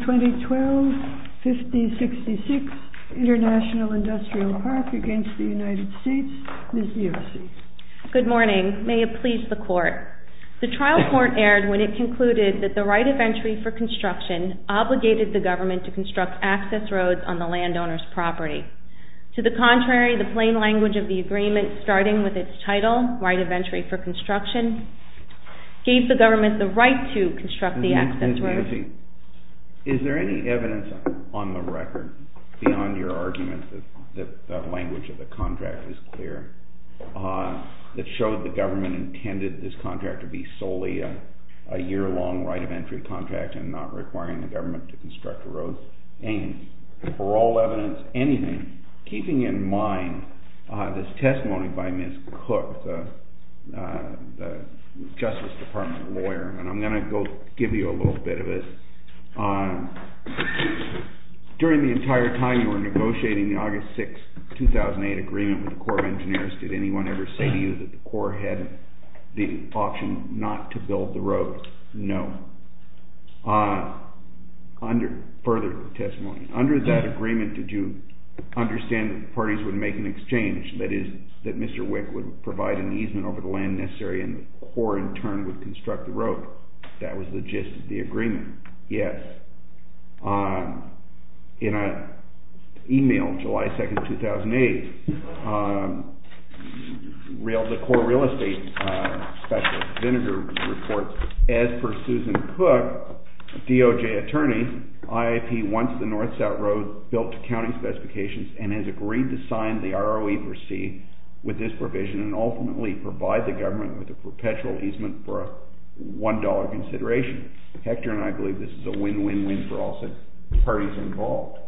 2012 5066 International Industrial Park v. United States Ms. Yersey Good morning. May it please the Court, The trial court erred when it concluded that the right of entry for construction obligated the government to construct access roads on the landowner's property. To the contrary, the plain language of the agreement, starting with its title, right of entry for construction, gave the government the right to construct the access roads. Ms. Yersey, is there any evidence on the record, beyond your argument that the language of the contract is clear, that showed the government intended this contract to be solely a year-long right of entry contract and not requiring the government to construct a road's aims? For all evidence, anything, keeping in mind this testimony by Ms. Cook, the Justice Department lawyer, and I'm going to go give you a little bit of this. During the entire time you were negotiating the August 6, 2008 agreement with the Corps of Engineers, did anyone ever say to you that the Corps had the option not to build the roads? No. Further testimony. Under that agreement, did you understand that the parties would make an exchange, that is, that Mr. Wick would provide an easement over the land necessary and the Corps in turn would construct the road? That was the gist of the agreement. Yes. In an email, July 2, 2008, the Corps of Real Estate Special Representative reports, as per Susan Cook, DOJ attorney, IAP wants the north-south road built to county specifications and has agreed to sign the ROE for C with this provision and ultimately provide the government with a perpetual easement for a $1 consideration. Hector and I believe this is a win-win-win for all parties involved.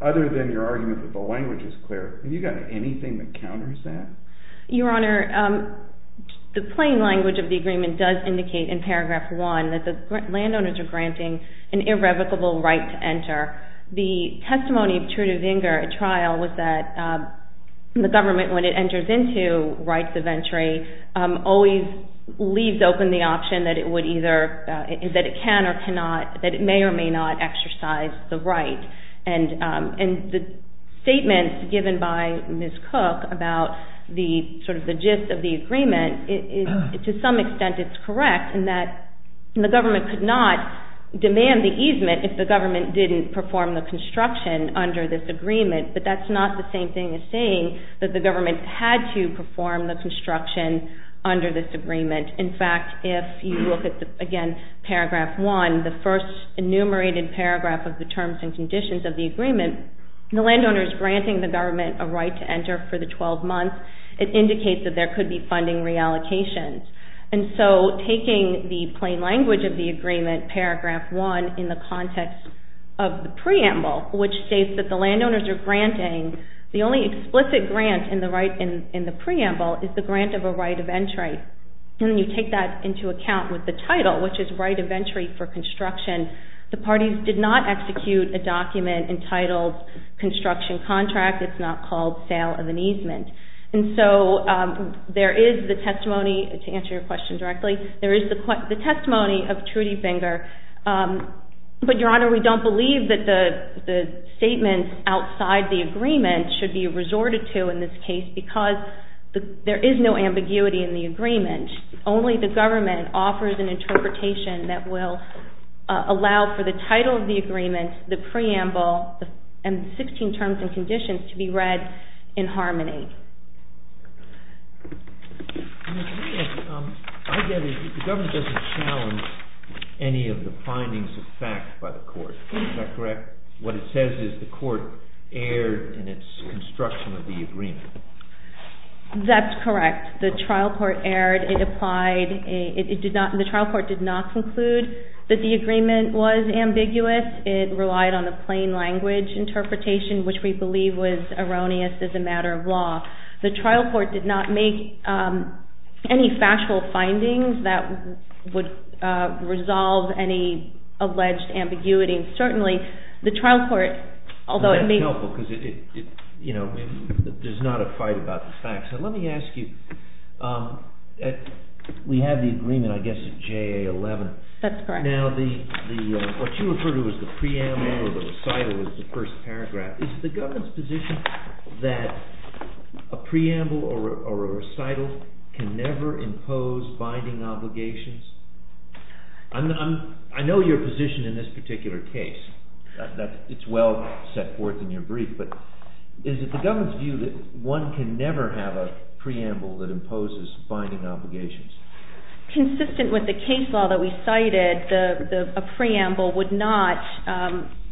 Other than your argument that the language is clear, have you got anything that counters that? Your Honor, the plain language of the agreement does indicate in paragraph 1 that the landowners are granting an irrevocable right to enter. The testimony of Trude Wenger at trial was that the government, when it enters into rights of entry, always leaves open the option that it would either, that it can or cannot, that it may or may not exercise the right. And the statements given by Ms. Cook about the gist of the agreement, to some extent it's correct in that the government could not demand the easement if the government didn't perform the construction under this agreement, but that's not the same thing as saying that the government had to perform the construction under this agreement. In fact, if you look at, again, paragraph 1, the first enumerated paragraph of the terms and conditions of the agreement, the landowners granting the government a right to enter for the 12 months, it indicates that there could be funding reallocations. And so taking the plain language of the agreement, paragraph 1, in the context of the preamble, which states that the landowners are granting, the only explicit grant in the preamble is the grant of a right of entry. And you take that into account with the title, which is right of entry for construction. The parties did not execute a document entitled construction contract. It's not called sale of an easement. And so there is the testimony, to answer your question directly, there is the testimony of Trude Wenger, but, Your Honor, we don't believe that the statements outside the agreement should be resorted to in this case because there is no ambiguity in the agreement. Only the government offers an interpretation that will allow for the title of the agreement, the preamble, and 16 terms and conditions to be read in harmony. I get it. The government doesn't challenge any of the findings of fact by the court. Is that correct? What it says is the court erred in its construction of the agreement. That's correct. The trial court erred. The trial court did not conclude that the agreement was ambiguous. It relied on the plain language interpretation, which we believe was erroneous as a matter of law. The trial court did not make any factual findings that would resolve any alleged ambiguity. Certainly, the trial court, although it may... That's helpful because there's not a fight about the facts. Let me ask you, we had the agreement, I guess, at JA 11. That's correct. Now, what you referred to as the preamble or the recital was the first paragraph. Is the government's position that a preamble or a recital can never impose binding obligations? I know your position in this particular case. It's well set forth in your brief, but is it the government's view that one can never have a preamble that imposes binding obligations? Consistent with the case law that we cited, a preamble would not...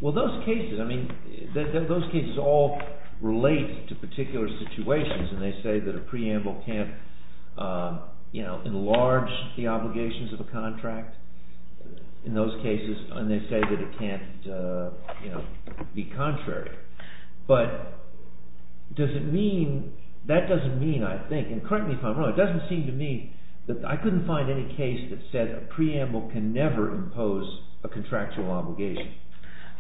Well, those cases, I mean, those cases all relate to particular situations, and they say that a preamble can't enlarge the obligations of a contract in those cases, and they say that it can't be contrary. But that doesn't mean, I think, and correct me if I'm wrong, it doesn't seem to me that I couldn't find any case that said a preamble can never impose a contractual obligation.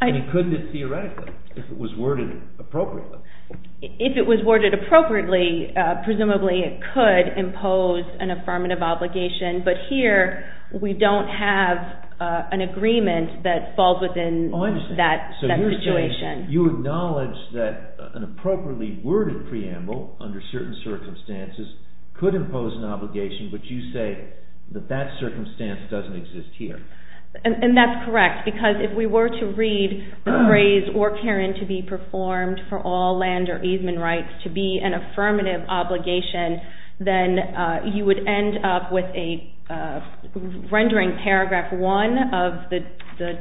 I mean, couldn't it theoretically if it was worded appropriately? If it was worded appropriately, presumably it could impose an affirmative obligation, but here we don't have an agreement that falls within that situation. You acknowledge that an appropriately worded preamble under certain circumstances could impose an obligation, but you say that that circumstance doesn't exist here. And that's correct, because if we were to read the phrase, or Karen, to be performed for all land or easement rights to be an affirmative obligation, then you would end up with a rendering paragraph one of the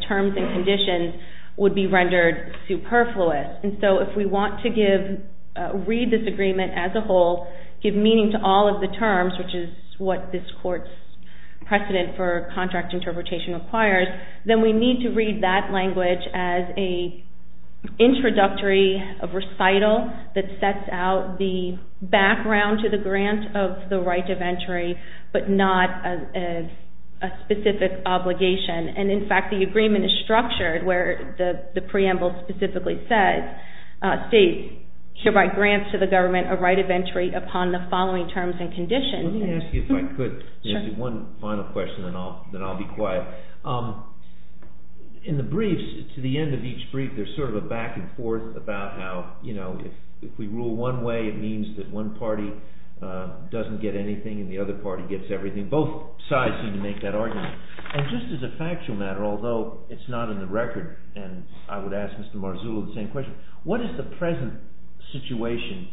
terms and conditions would be rendered superfluous. And so if we want to read this agreement as a whole, give meaning to all of the terms, which is what this court's precedent for contract interpretation requires, then we need to read that language as an introductory recital that sets out the background to the grant of the right of entry, but not as a specific obligation. And in fact, the agreement is structured where the preamble specifically says, states should write grants to the government a right of entry upon the following terms and conditions. Let me ask you, if I could, one final question, then I'll be quiet. In the briefs, to the end of each brief, there's sort of a back and forth about how, you know, if we rule one way, it means that one party doesn't get anything and the other party gets everything. Both sides seem to make that argument. And just as a factual matter, although it's not in the record, and I would ask Mr. Marzullo the same question, what is the present situation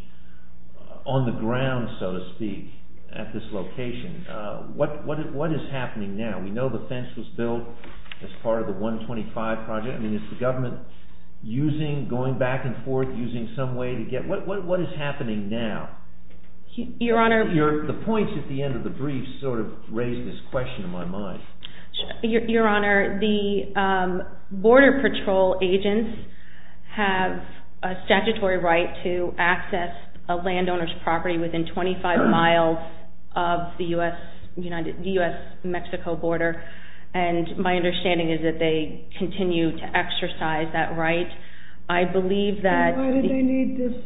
on the ground, so to speak, at this location? What is happening now? We know the fence was built as part of the 125 project. I mean, is the government using, going back and forth, using some way to get, what is happening now? The points at the end of the brief sort of raise this question in my mind. Your Honor, the border patrol agents have a statutory right to access a landowner's property within 25 miles of the U.S.-Mexico border. And my understanding is that they continue to exercise that right. I believe that... The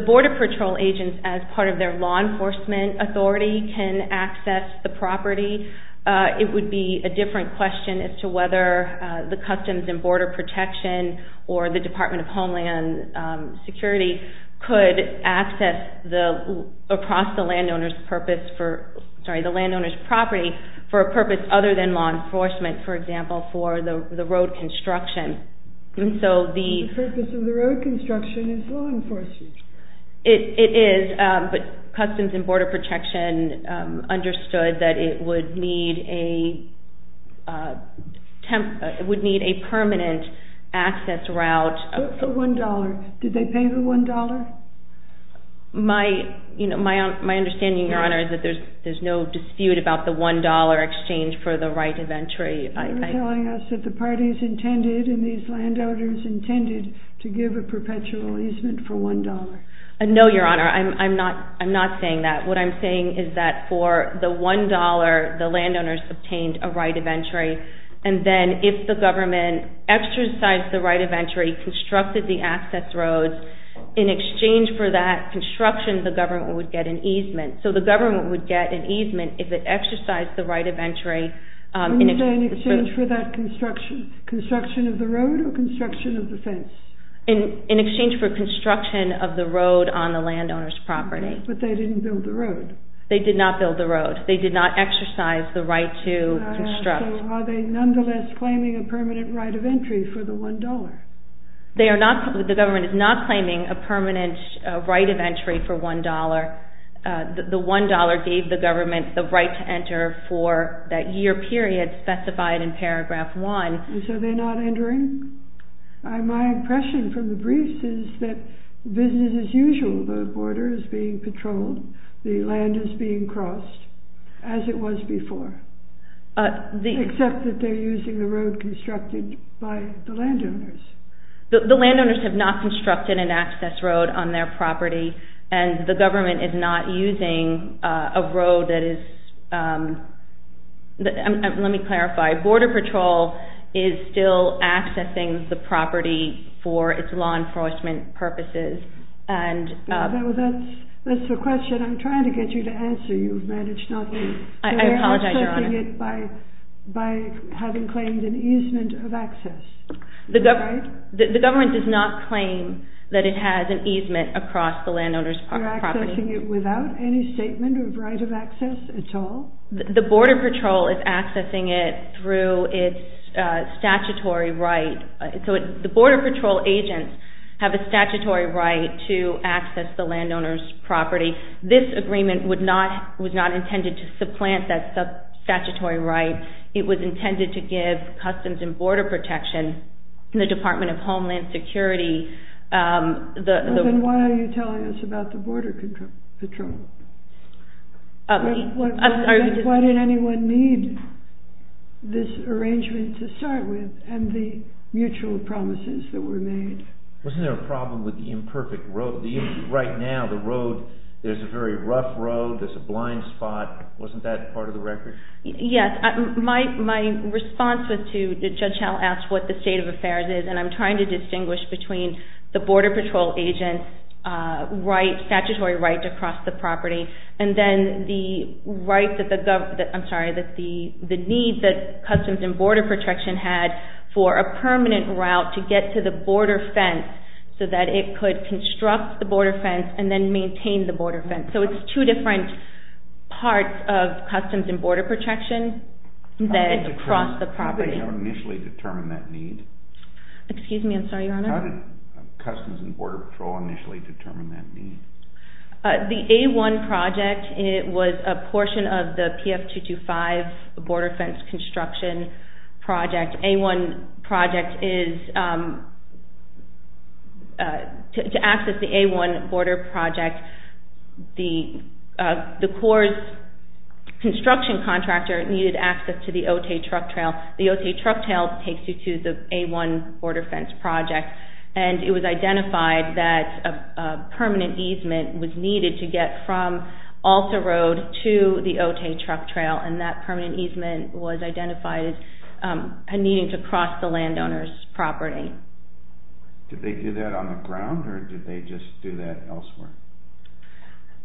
border patrol agents, as part of their law enforcement authority, can access the property. It would be a different question as to whether the Customs and Border Protection or the Department of Homeland Security could access across the landowner's property for a purpose other than law enforcement, for example, for the road construction. The purpose of the road construction is law enforcement. It is, but Customs and Border Protection understood that it would need a permanent access route. For $1, did they pay the $1? My understanding, Your Honor, is that there's no dispute about the $1 exchange for the right of entry. You're telling us that the parties intended and these landowners intended to give a perpetual easement for $1. No, Your Honor, I'm not saying that. What I'm saying is that for the $1, the landowners obtained a right of entry, and then if the government exercised the right of entry, constructed the access roads, in exchange for that construction, the government would get an easement. So the government would get an easement if it exercised the right of entry in exchange for that construction. Construction of the road or construction of the fence? In exchange for construction of the road on the landowner's property. But they didn't build the road. They did not build the road. They did not exercise the right to construct. So are they nonetheless claiming a permanent right of entry for the $1? The government is not claiming a permanent right of entry for $1. The $1 gave the government the right to enter for that year period specified in paragraph 1. So they're not entering? My impression from the briefs is that business as usual. The border is being patrolled. The land is being crossed, as it was before. Except that they're using the road constructed by the landowners. The landowners have not constructed an access road on their property, and the government is not using a road that is... Let me clarify. Border Patrol is still accessing the property for its law enforcement purposes. That's the question I'm trying to get you to answer. I apologize, Your Honor. They're accessing it by having claimed an easement of access. The government does not claim that it has an easement across the landowner's property. They're accessing it without any statement of right of access at all? The Border Patrol is accessing it through its statutory right. The Border Patrol agents have a statutory right to access the landowner's property. This agreement was not intended to supplant that statutory right. It was intended to give Customs and Border Protection, the Department of Homeland Security... Then why are you telling us about the Border Patrol? Why did anyone need this arrangement to start with and the mutual promises that were made? Wasn't there a problem with the imperfect road? Right now, the road is a very rough road. There's a blind spot. Wasn't that part of the record? Yes. My response was to... Judge Howell asked what the state of affairs is, and I'm trying to distinguish between the Border Patrol agent's statutory right to cross the property and then the need that Customs and Border Protection had for a permanent route to get to the border fence so that it could construct the border fence and then maintain the border fence. So it's two different parts of Customs and Border Protection that cross the property. How did Customs and Border Patrol initially determine that need? The A-1 project was a portion of the PF-225 border fence construction project. The A-1 project is... To access the A-1 border project, the Corps' construction contractor needed access to the Otay Truck Trail. The Otay Truck Trail takes you to the A-1 border fence project, and it was identified that a permanent easement was needed to get from Ulster Road to the Otay Truck Trail, and that permanent easement was identified as needing to cross the landowner's property. Did they do that on the ground, or did they just do that elsewhere?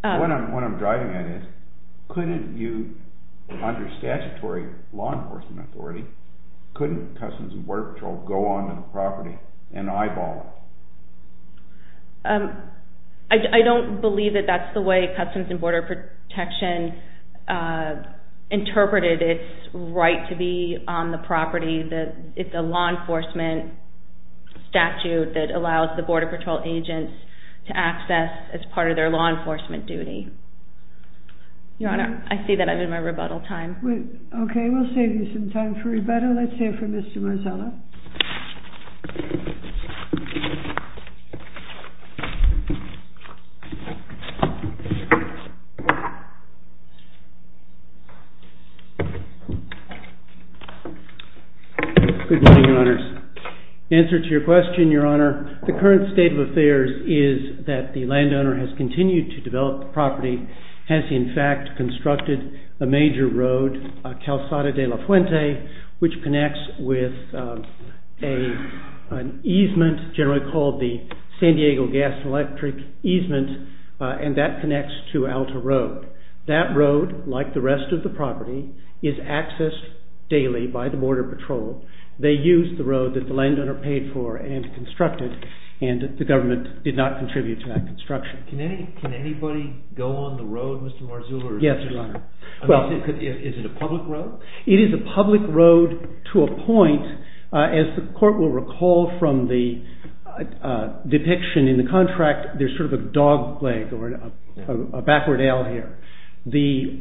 What I'm driving at is, couldn't you, under statutory law enforcement authority, couldn't Customs and Border Patrol go onto the property and eyeball it? I don't believe that that's the way Customs and Border Protection interpreted its right to be on the property. It's a law enforcement statute that allows the Border Patrol agents to access as part of their law enforcement duty. Your Honor, I see that I'm in my rebuttal time. Okay, we'll save you some time for rebuttal. Let's hear from Mr. Marzullo. Good morning, Your Honors. Answer to your question, Your Honor, the current state of affairs is that the landowner has continued to develop the property, has in fact constructed a major road, Calzada de la Fuente, which connects with an easement generally called the San Diego Gas and Electric easement, and that connects to Alta Road. That road, like the rest of the property, is accessed daily by the Border Patrol. They used the road that the landowner paid for and constructed, and the government did not contribute to that construction. Can anybody go on the road, Mr. Marzullo? Yes, Your Honor. Is it a public road? It is a public road to a point. As the court will recall from the depiction in the contract, there's sort of a dog leg or a backward L here. The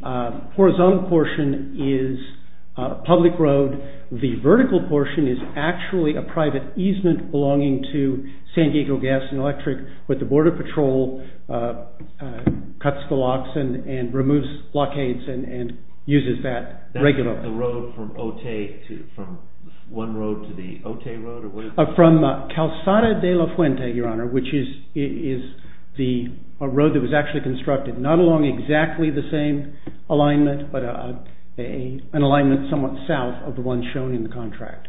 horizontal portion is a public road. The vertical portion is actually a private easement belonging to San Diego Gas and Electric, but the Border Patrol cuts the locks and removes blockades and uses that regularly. That's the road from Ote, from one road to the Ote Road? From Calzada de la Fuente, Your Honor, which is the road that was actually constructed, not along exactly the same alignment, but an alignment somewhat south of the one shown in the contract.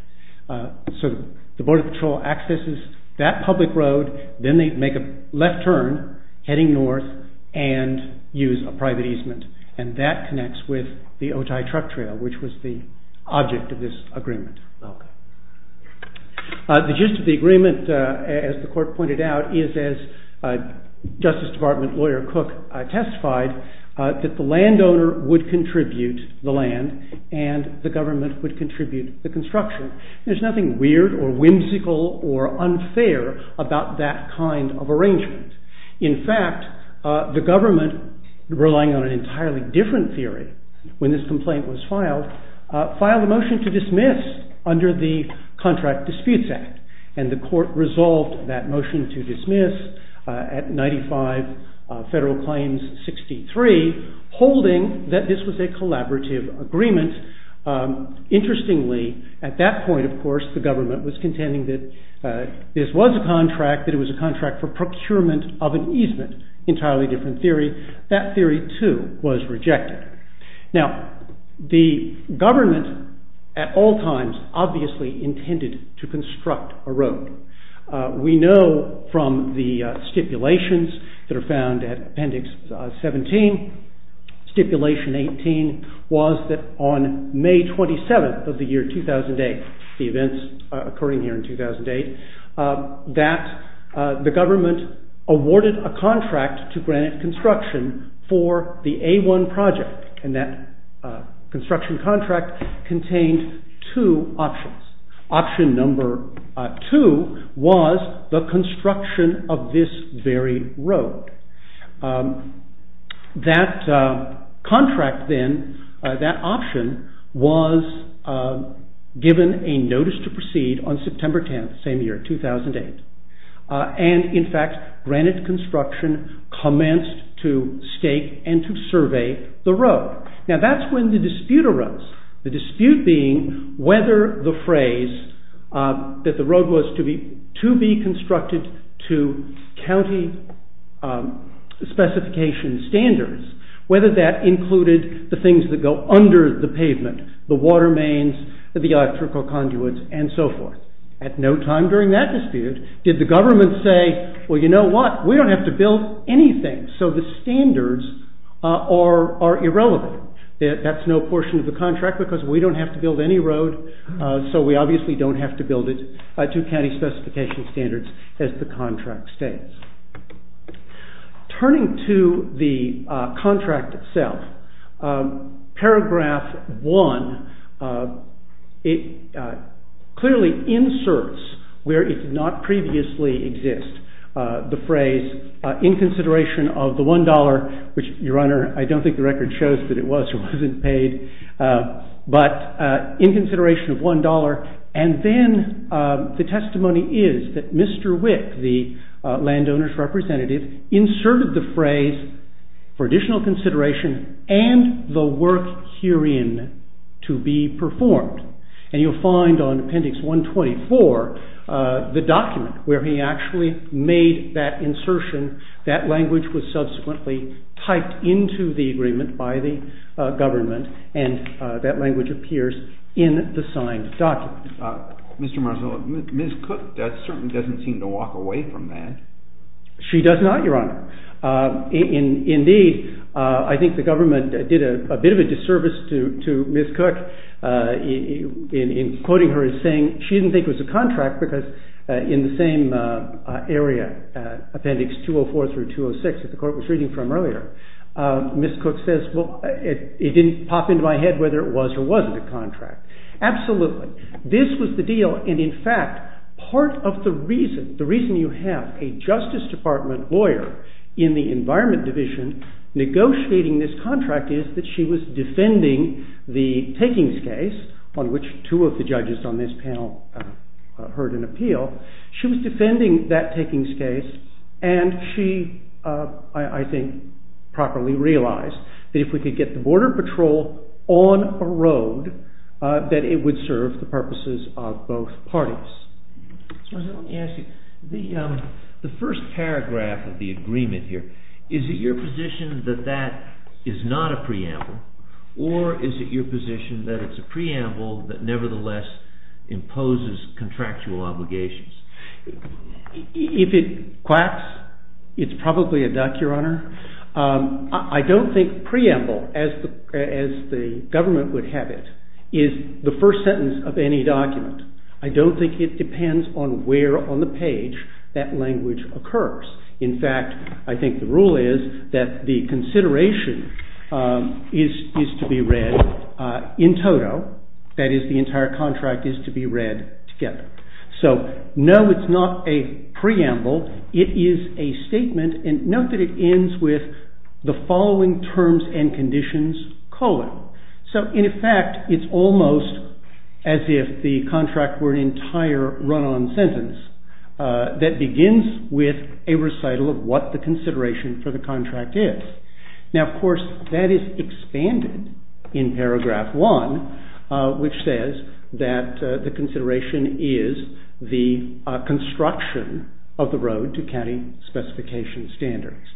So the Border Patrol accesses that public road, then they make a left turn heading north, and use a private easement, and that connects with the Otay Truck Trail, which was the object of this agreement. Okay. The gist of the agreement, as the court pointed out, is as Justice Department lawyer Cook testified, that the landowner would contribute the land, and the government would contribute the construction. There's nothing weird or whimsical or unfair about that kind of arrangement. In fact, the government, relying on an entirely different theory when this complaint was filed, filed a motion to dismiss under the Contract Disputes Act, and the court resolved that motion to dismiss at 95 Federal Claims 63, holding that this was a collaborative agreement. Interestingly, at that point, of course, the government was contending that this was a contract, that it was a contract for procurement of an easement. Entirely different theory. That theory, too, was rejected. Now, the government, at all times, obviously intended to construct a road. We know from the stipulations that are found at Appendix 17, Stipulation 18 was that on May 27th of the year 2008, the events occurring here in 2008, that the government awarded a contract to Granite Construction for the A1 project, and that construction contract contained two options. Option number two was the construction of this very road. That contract then, that option, was given a notice to proceed on September 10th, the same year, 2008. And, in fact, Granite Construction commenced to stake and to survey the road. Now, that's when the dispute arose. The dispute being whether the phrase that the road was to be constructed to county specification standards, whether that included the things that go under the pavement, the water mains, the electrical conduits, and so forth. At no time during that dispute did the government say, well, you know what, we don't have to build anything, so the standards are irrelevant. That's no portion of the contract because we don't have to build any road, so we obviously don't have to build it to county specification standards, as the contract states. Turning to the contract itself, paragraph one, it clearly inserts, where it did not previously exist, the phrase, in consideration of the one dollar, which, your honor, I don't think the record shows that it was or wasn't paid, but in consideration of one dollar, and then the testimony is that Mr. Wick, the landowner's representative, inserted the phrase, for additional consideration, and the work herein to be performed. And you'll find on appendix 124, the document where he actually made that insertion, that language was subsequently typed into the agreement by the government, and that language appears in the signed document. Mr. Marzullo, Ms. Cook certainly doesn't seem to walk away from that. She does not, your honor. Indeed, I think the government did a bit of a disservice to Ms. Cook in quoting her as saying she didn't think it was a contract because in the same area, appendix 204 through 206, that the court was reading from earlier, Ms. Cook says, well, it didn't pop into my head whether it was or wasn't a contract. Absolutely. This was the deal, and in fact, part of the reason you have a Justice Department lawyer in the Environment Division negotiating this contract is that she was defending the takings case, on which two of the judges on this panel heard an appeal. She was defending that takings case, and she, I think, properly realized that if we could get the Border Patrol on a road, that it would serve the purposes of both parties. Mr. Marzullo, let me ask you, the first paragraph of the agreement here, is it your position that that is not a preamble, or is it your position that it's a preamble that nevertheless imposes contractual obligations? If it quacks, it's probably a duck, Your Honor. I don't think preamble, as the government would have it, is the first sentence of any document. I don't think it depends on where on the page that language occurs. In fact, I think the rule is that the consideration is to be read in toto, that is, the entire contract is to be read together. So, no, it's not a preamble. It is a statement, and note that it ends with the following terms and conditions, colon. So, in effect, it's almost as if the contract were an entire run-on sentence that begins with a recital of what the consideration for the contract is. Now, of course, that is expanded in paragraph 1, which says that the consideration is the construction of the road to county specification standards.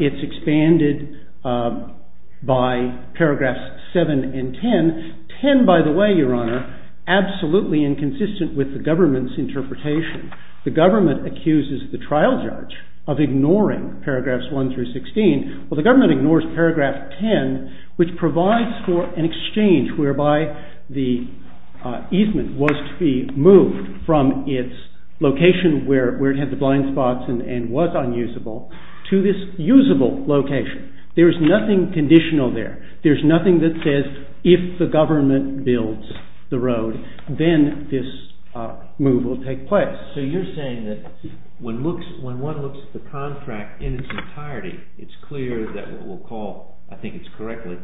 It's expanded by paragraphs 7 and 10. 10, by the way, Your Honor, absolutely inconsistent with the government's interpretation. The government accuses the trial judge of ignoring paragraphs 1 through 16. Well, the government ignores paragraph 10, which provides for an exchange whereby the easement was to be moved from its location where it had the blind spots and was unusable to this usable location. There's nothing conditional there. There's nothing that says, if the government builds the road, then this move will take place. So you're saying that when one looks at the contract in its entirety, it's clear that what we'll call, I think it's correctly,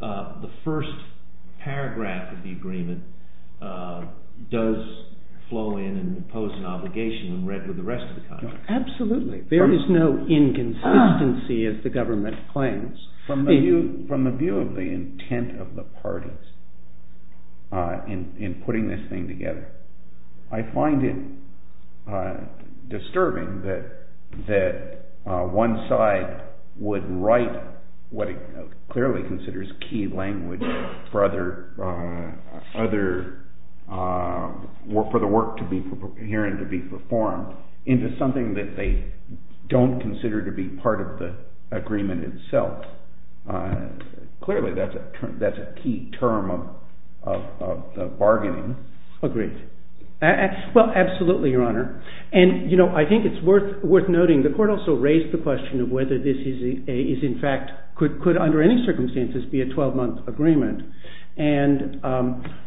the first paragraph of the agreement does flow in and impose an obligation when read with the rest of the contract. Absolutely. There is no inconsistency, as the government claims. From the view of the intent of the parties in putting this thing together, I find it disturbing that one side would write what it clearly considers key language for the work to be here and to be performed into something that they don't consider to be part of the agreement itself. Clearly, that's a key term of bargaining. Agreed. Well, absolutely, Your Honor. And I think it's worth noting, the court also raised the question of whether this is in fact, could under any circumstances be a 12-month agreement. And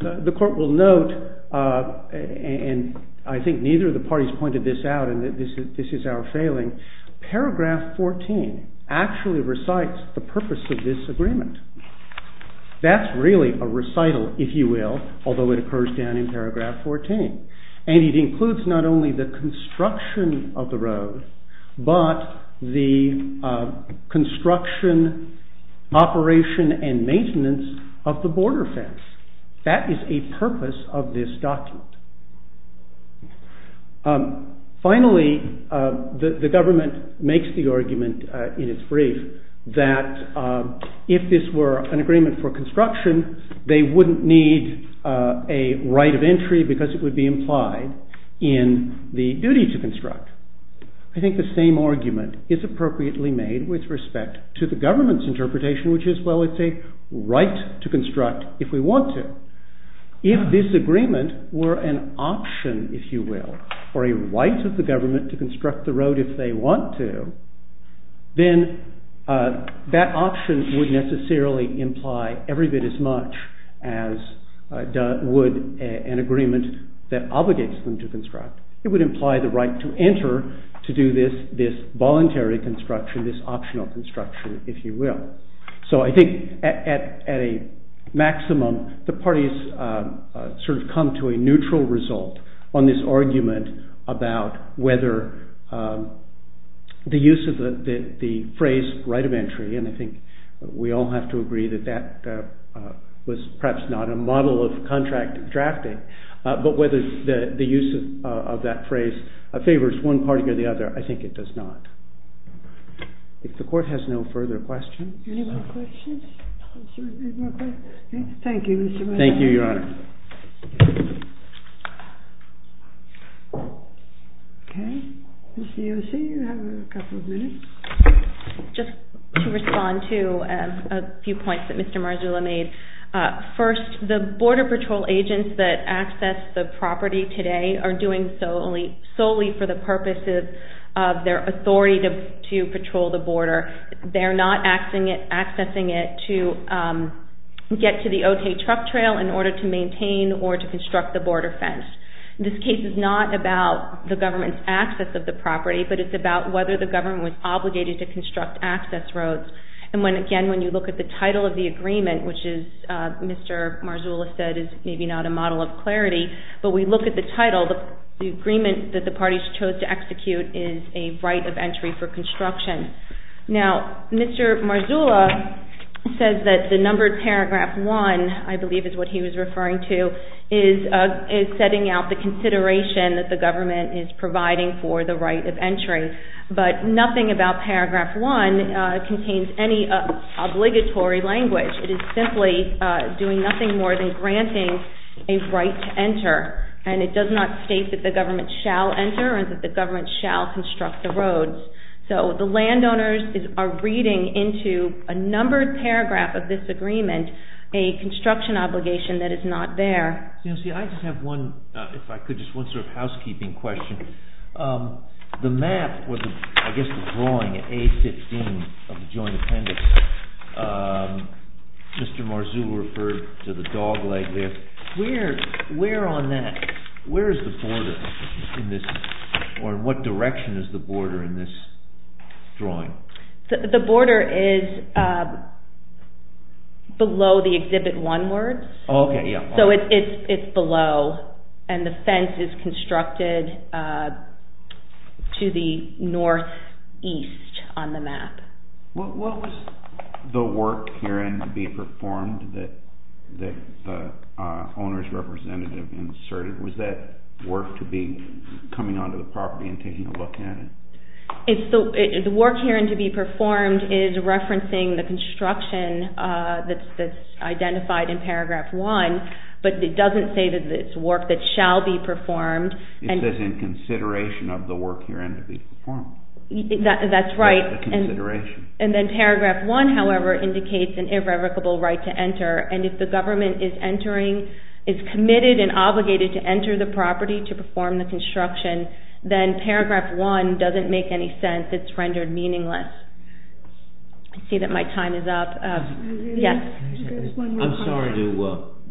the court will note, and I think neither of the parties pointed this out, and this is our failing, paragraph 14 actually recites the purpose of this agreement. That's really a recital, if you will, although it occurs down in paragraph 14. And it includes not only the construction of the road, but the construction, operation, and maintenance of the border fence. That is a purpose of this document. Finally, the government makes the argument in its brief that if this were an agreement for construction, they wouldn't need a right of entry because it would be implied in the duty to construct. I think the same argument is appropriately made with respect to the government's interpretation, which is, well, it's a right to construct if we want to. If this agreement were an option, if you will, or a right of the government to construct the road if they want to, then that option would necessarily imply every bit as much as would an agreement that obligates them to construct. It would imply the right to enter to do this voluntary construction, this optional construction, if you will. So I think at a maximum, the parties sort of come to a neutral result on this argument about whether the use of the phrase right of entry, and I think we all have to agree that that was perhaps not a model of contract drafting, but whether the use of that phrase favors one party or the other, I think it does not. If the Court has no further questions. Any more questions? Thank you, Mr. Bannon. Thank you, Your Honor. Okay, Ms. Yossi, you have a couple of minutes. Just to respond to a few points that Mr. Marzullo made. First, the Border Patrol agents that access the property today are doing so solely for the purposes of their authority to patrol the border. They're not accessing it to get to the Otay truck trail in order to maintain or to construct the border fence. This case is not about the government's access of the property, but it's about whether the government was obligated to construct access roads. And again, when you look at the title of the agreement, which is, Mr. Marzullo said, is maybe not a model of clarity, but we look at the title, the agreement that the parties chose to execute is a right of entry for construction. Now, Mr. Marzullo says that the numbered paragraph one, I believe is what he was referring to, is setting out the consideration that the government is providing for the right of entry. But nothing about paragraph one contains any obligatory language. It is simply doing nothing more than granting a right to enter. And it does not state that the government shall enter or that the government shall construct the roads. So the landowners are reading into a numbered paragraph of this agreement a construction obligation that is not there. I just have one, if I could, just one sort of housekeeping question. The map, or I guess the drawing, A15 of the joint appendix, Mr. Marzullo referred to the dog leg there. Where on that, where is the border in this, or in what direction is the border in this drawing? The border is below the Exhibit 1 words. Okay, yeah. So it's below, and the fence is constructed to the northeast on the map. What was the work herein to be performed that the owner's representative inserted? Was that work to be coming onto the property and taking a look at it? The work herein to be performed is referencing the construction that's identified in Paragraph 1, but it doesn't say that it's work that shall be performed. It says in consideration of the work herein to be performed. That's right. And then Paragraph 1, however, indicates an irrevocable right to enter, and if the government is entering, is committed and obligated to enter the property to perform the construction, then Paragraph 1 doesn't make any sense. It's rendered meaningless. I see that my time is up. Yes? I'm sorry to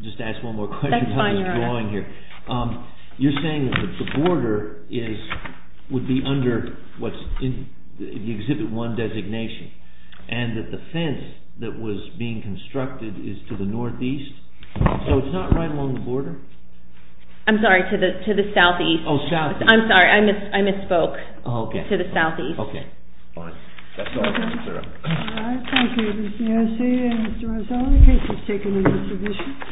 just ask one more question about this drawing here. You're saying that the border would be under what's in the Exhibit 1 designation, and that the fence that was being constructed is to the northeast? So it's not right along the border? I'm sorry, to the southeast. Oh, southeast. I'm sorry, I misspoke. Oh, okay. It's to the southeast. Okay. All right. That's all I have to clear up. All right. Thank you. This is Nancy and Mr. Rosell. The case is taken in this division.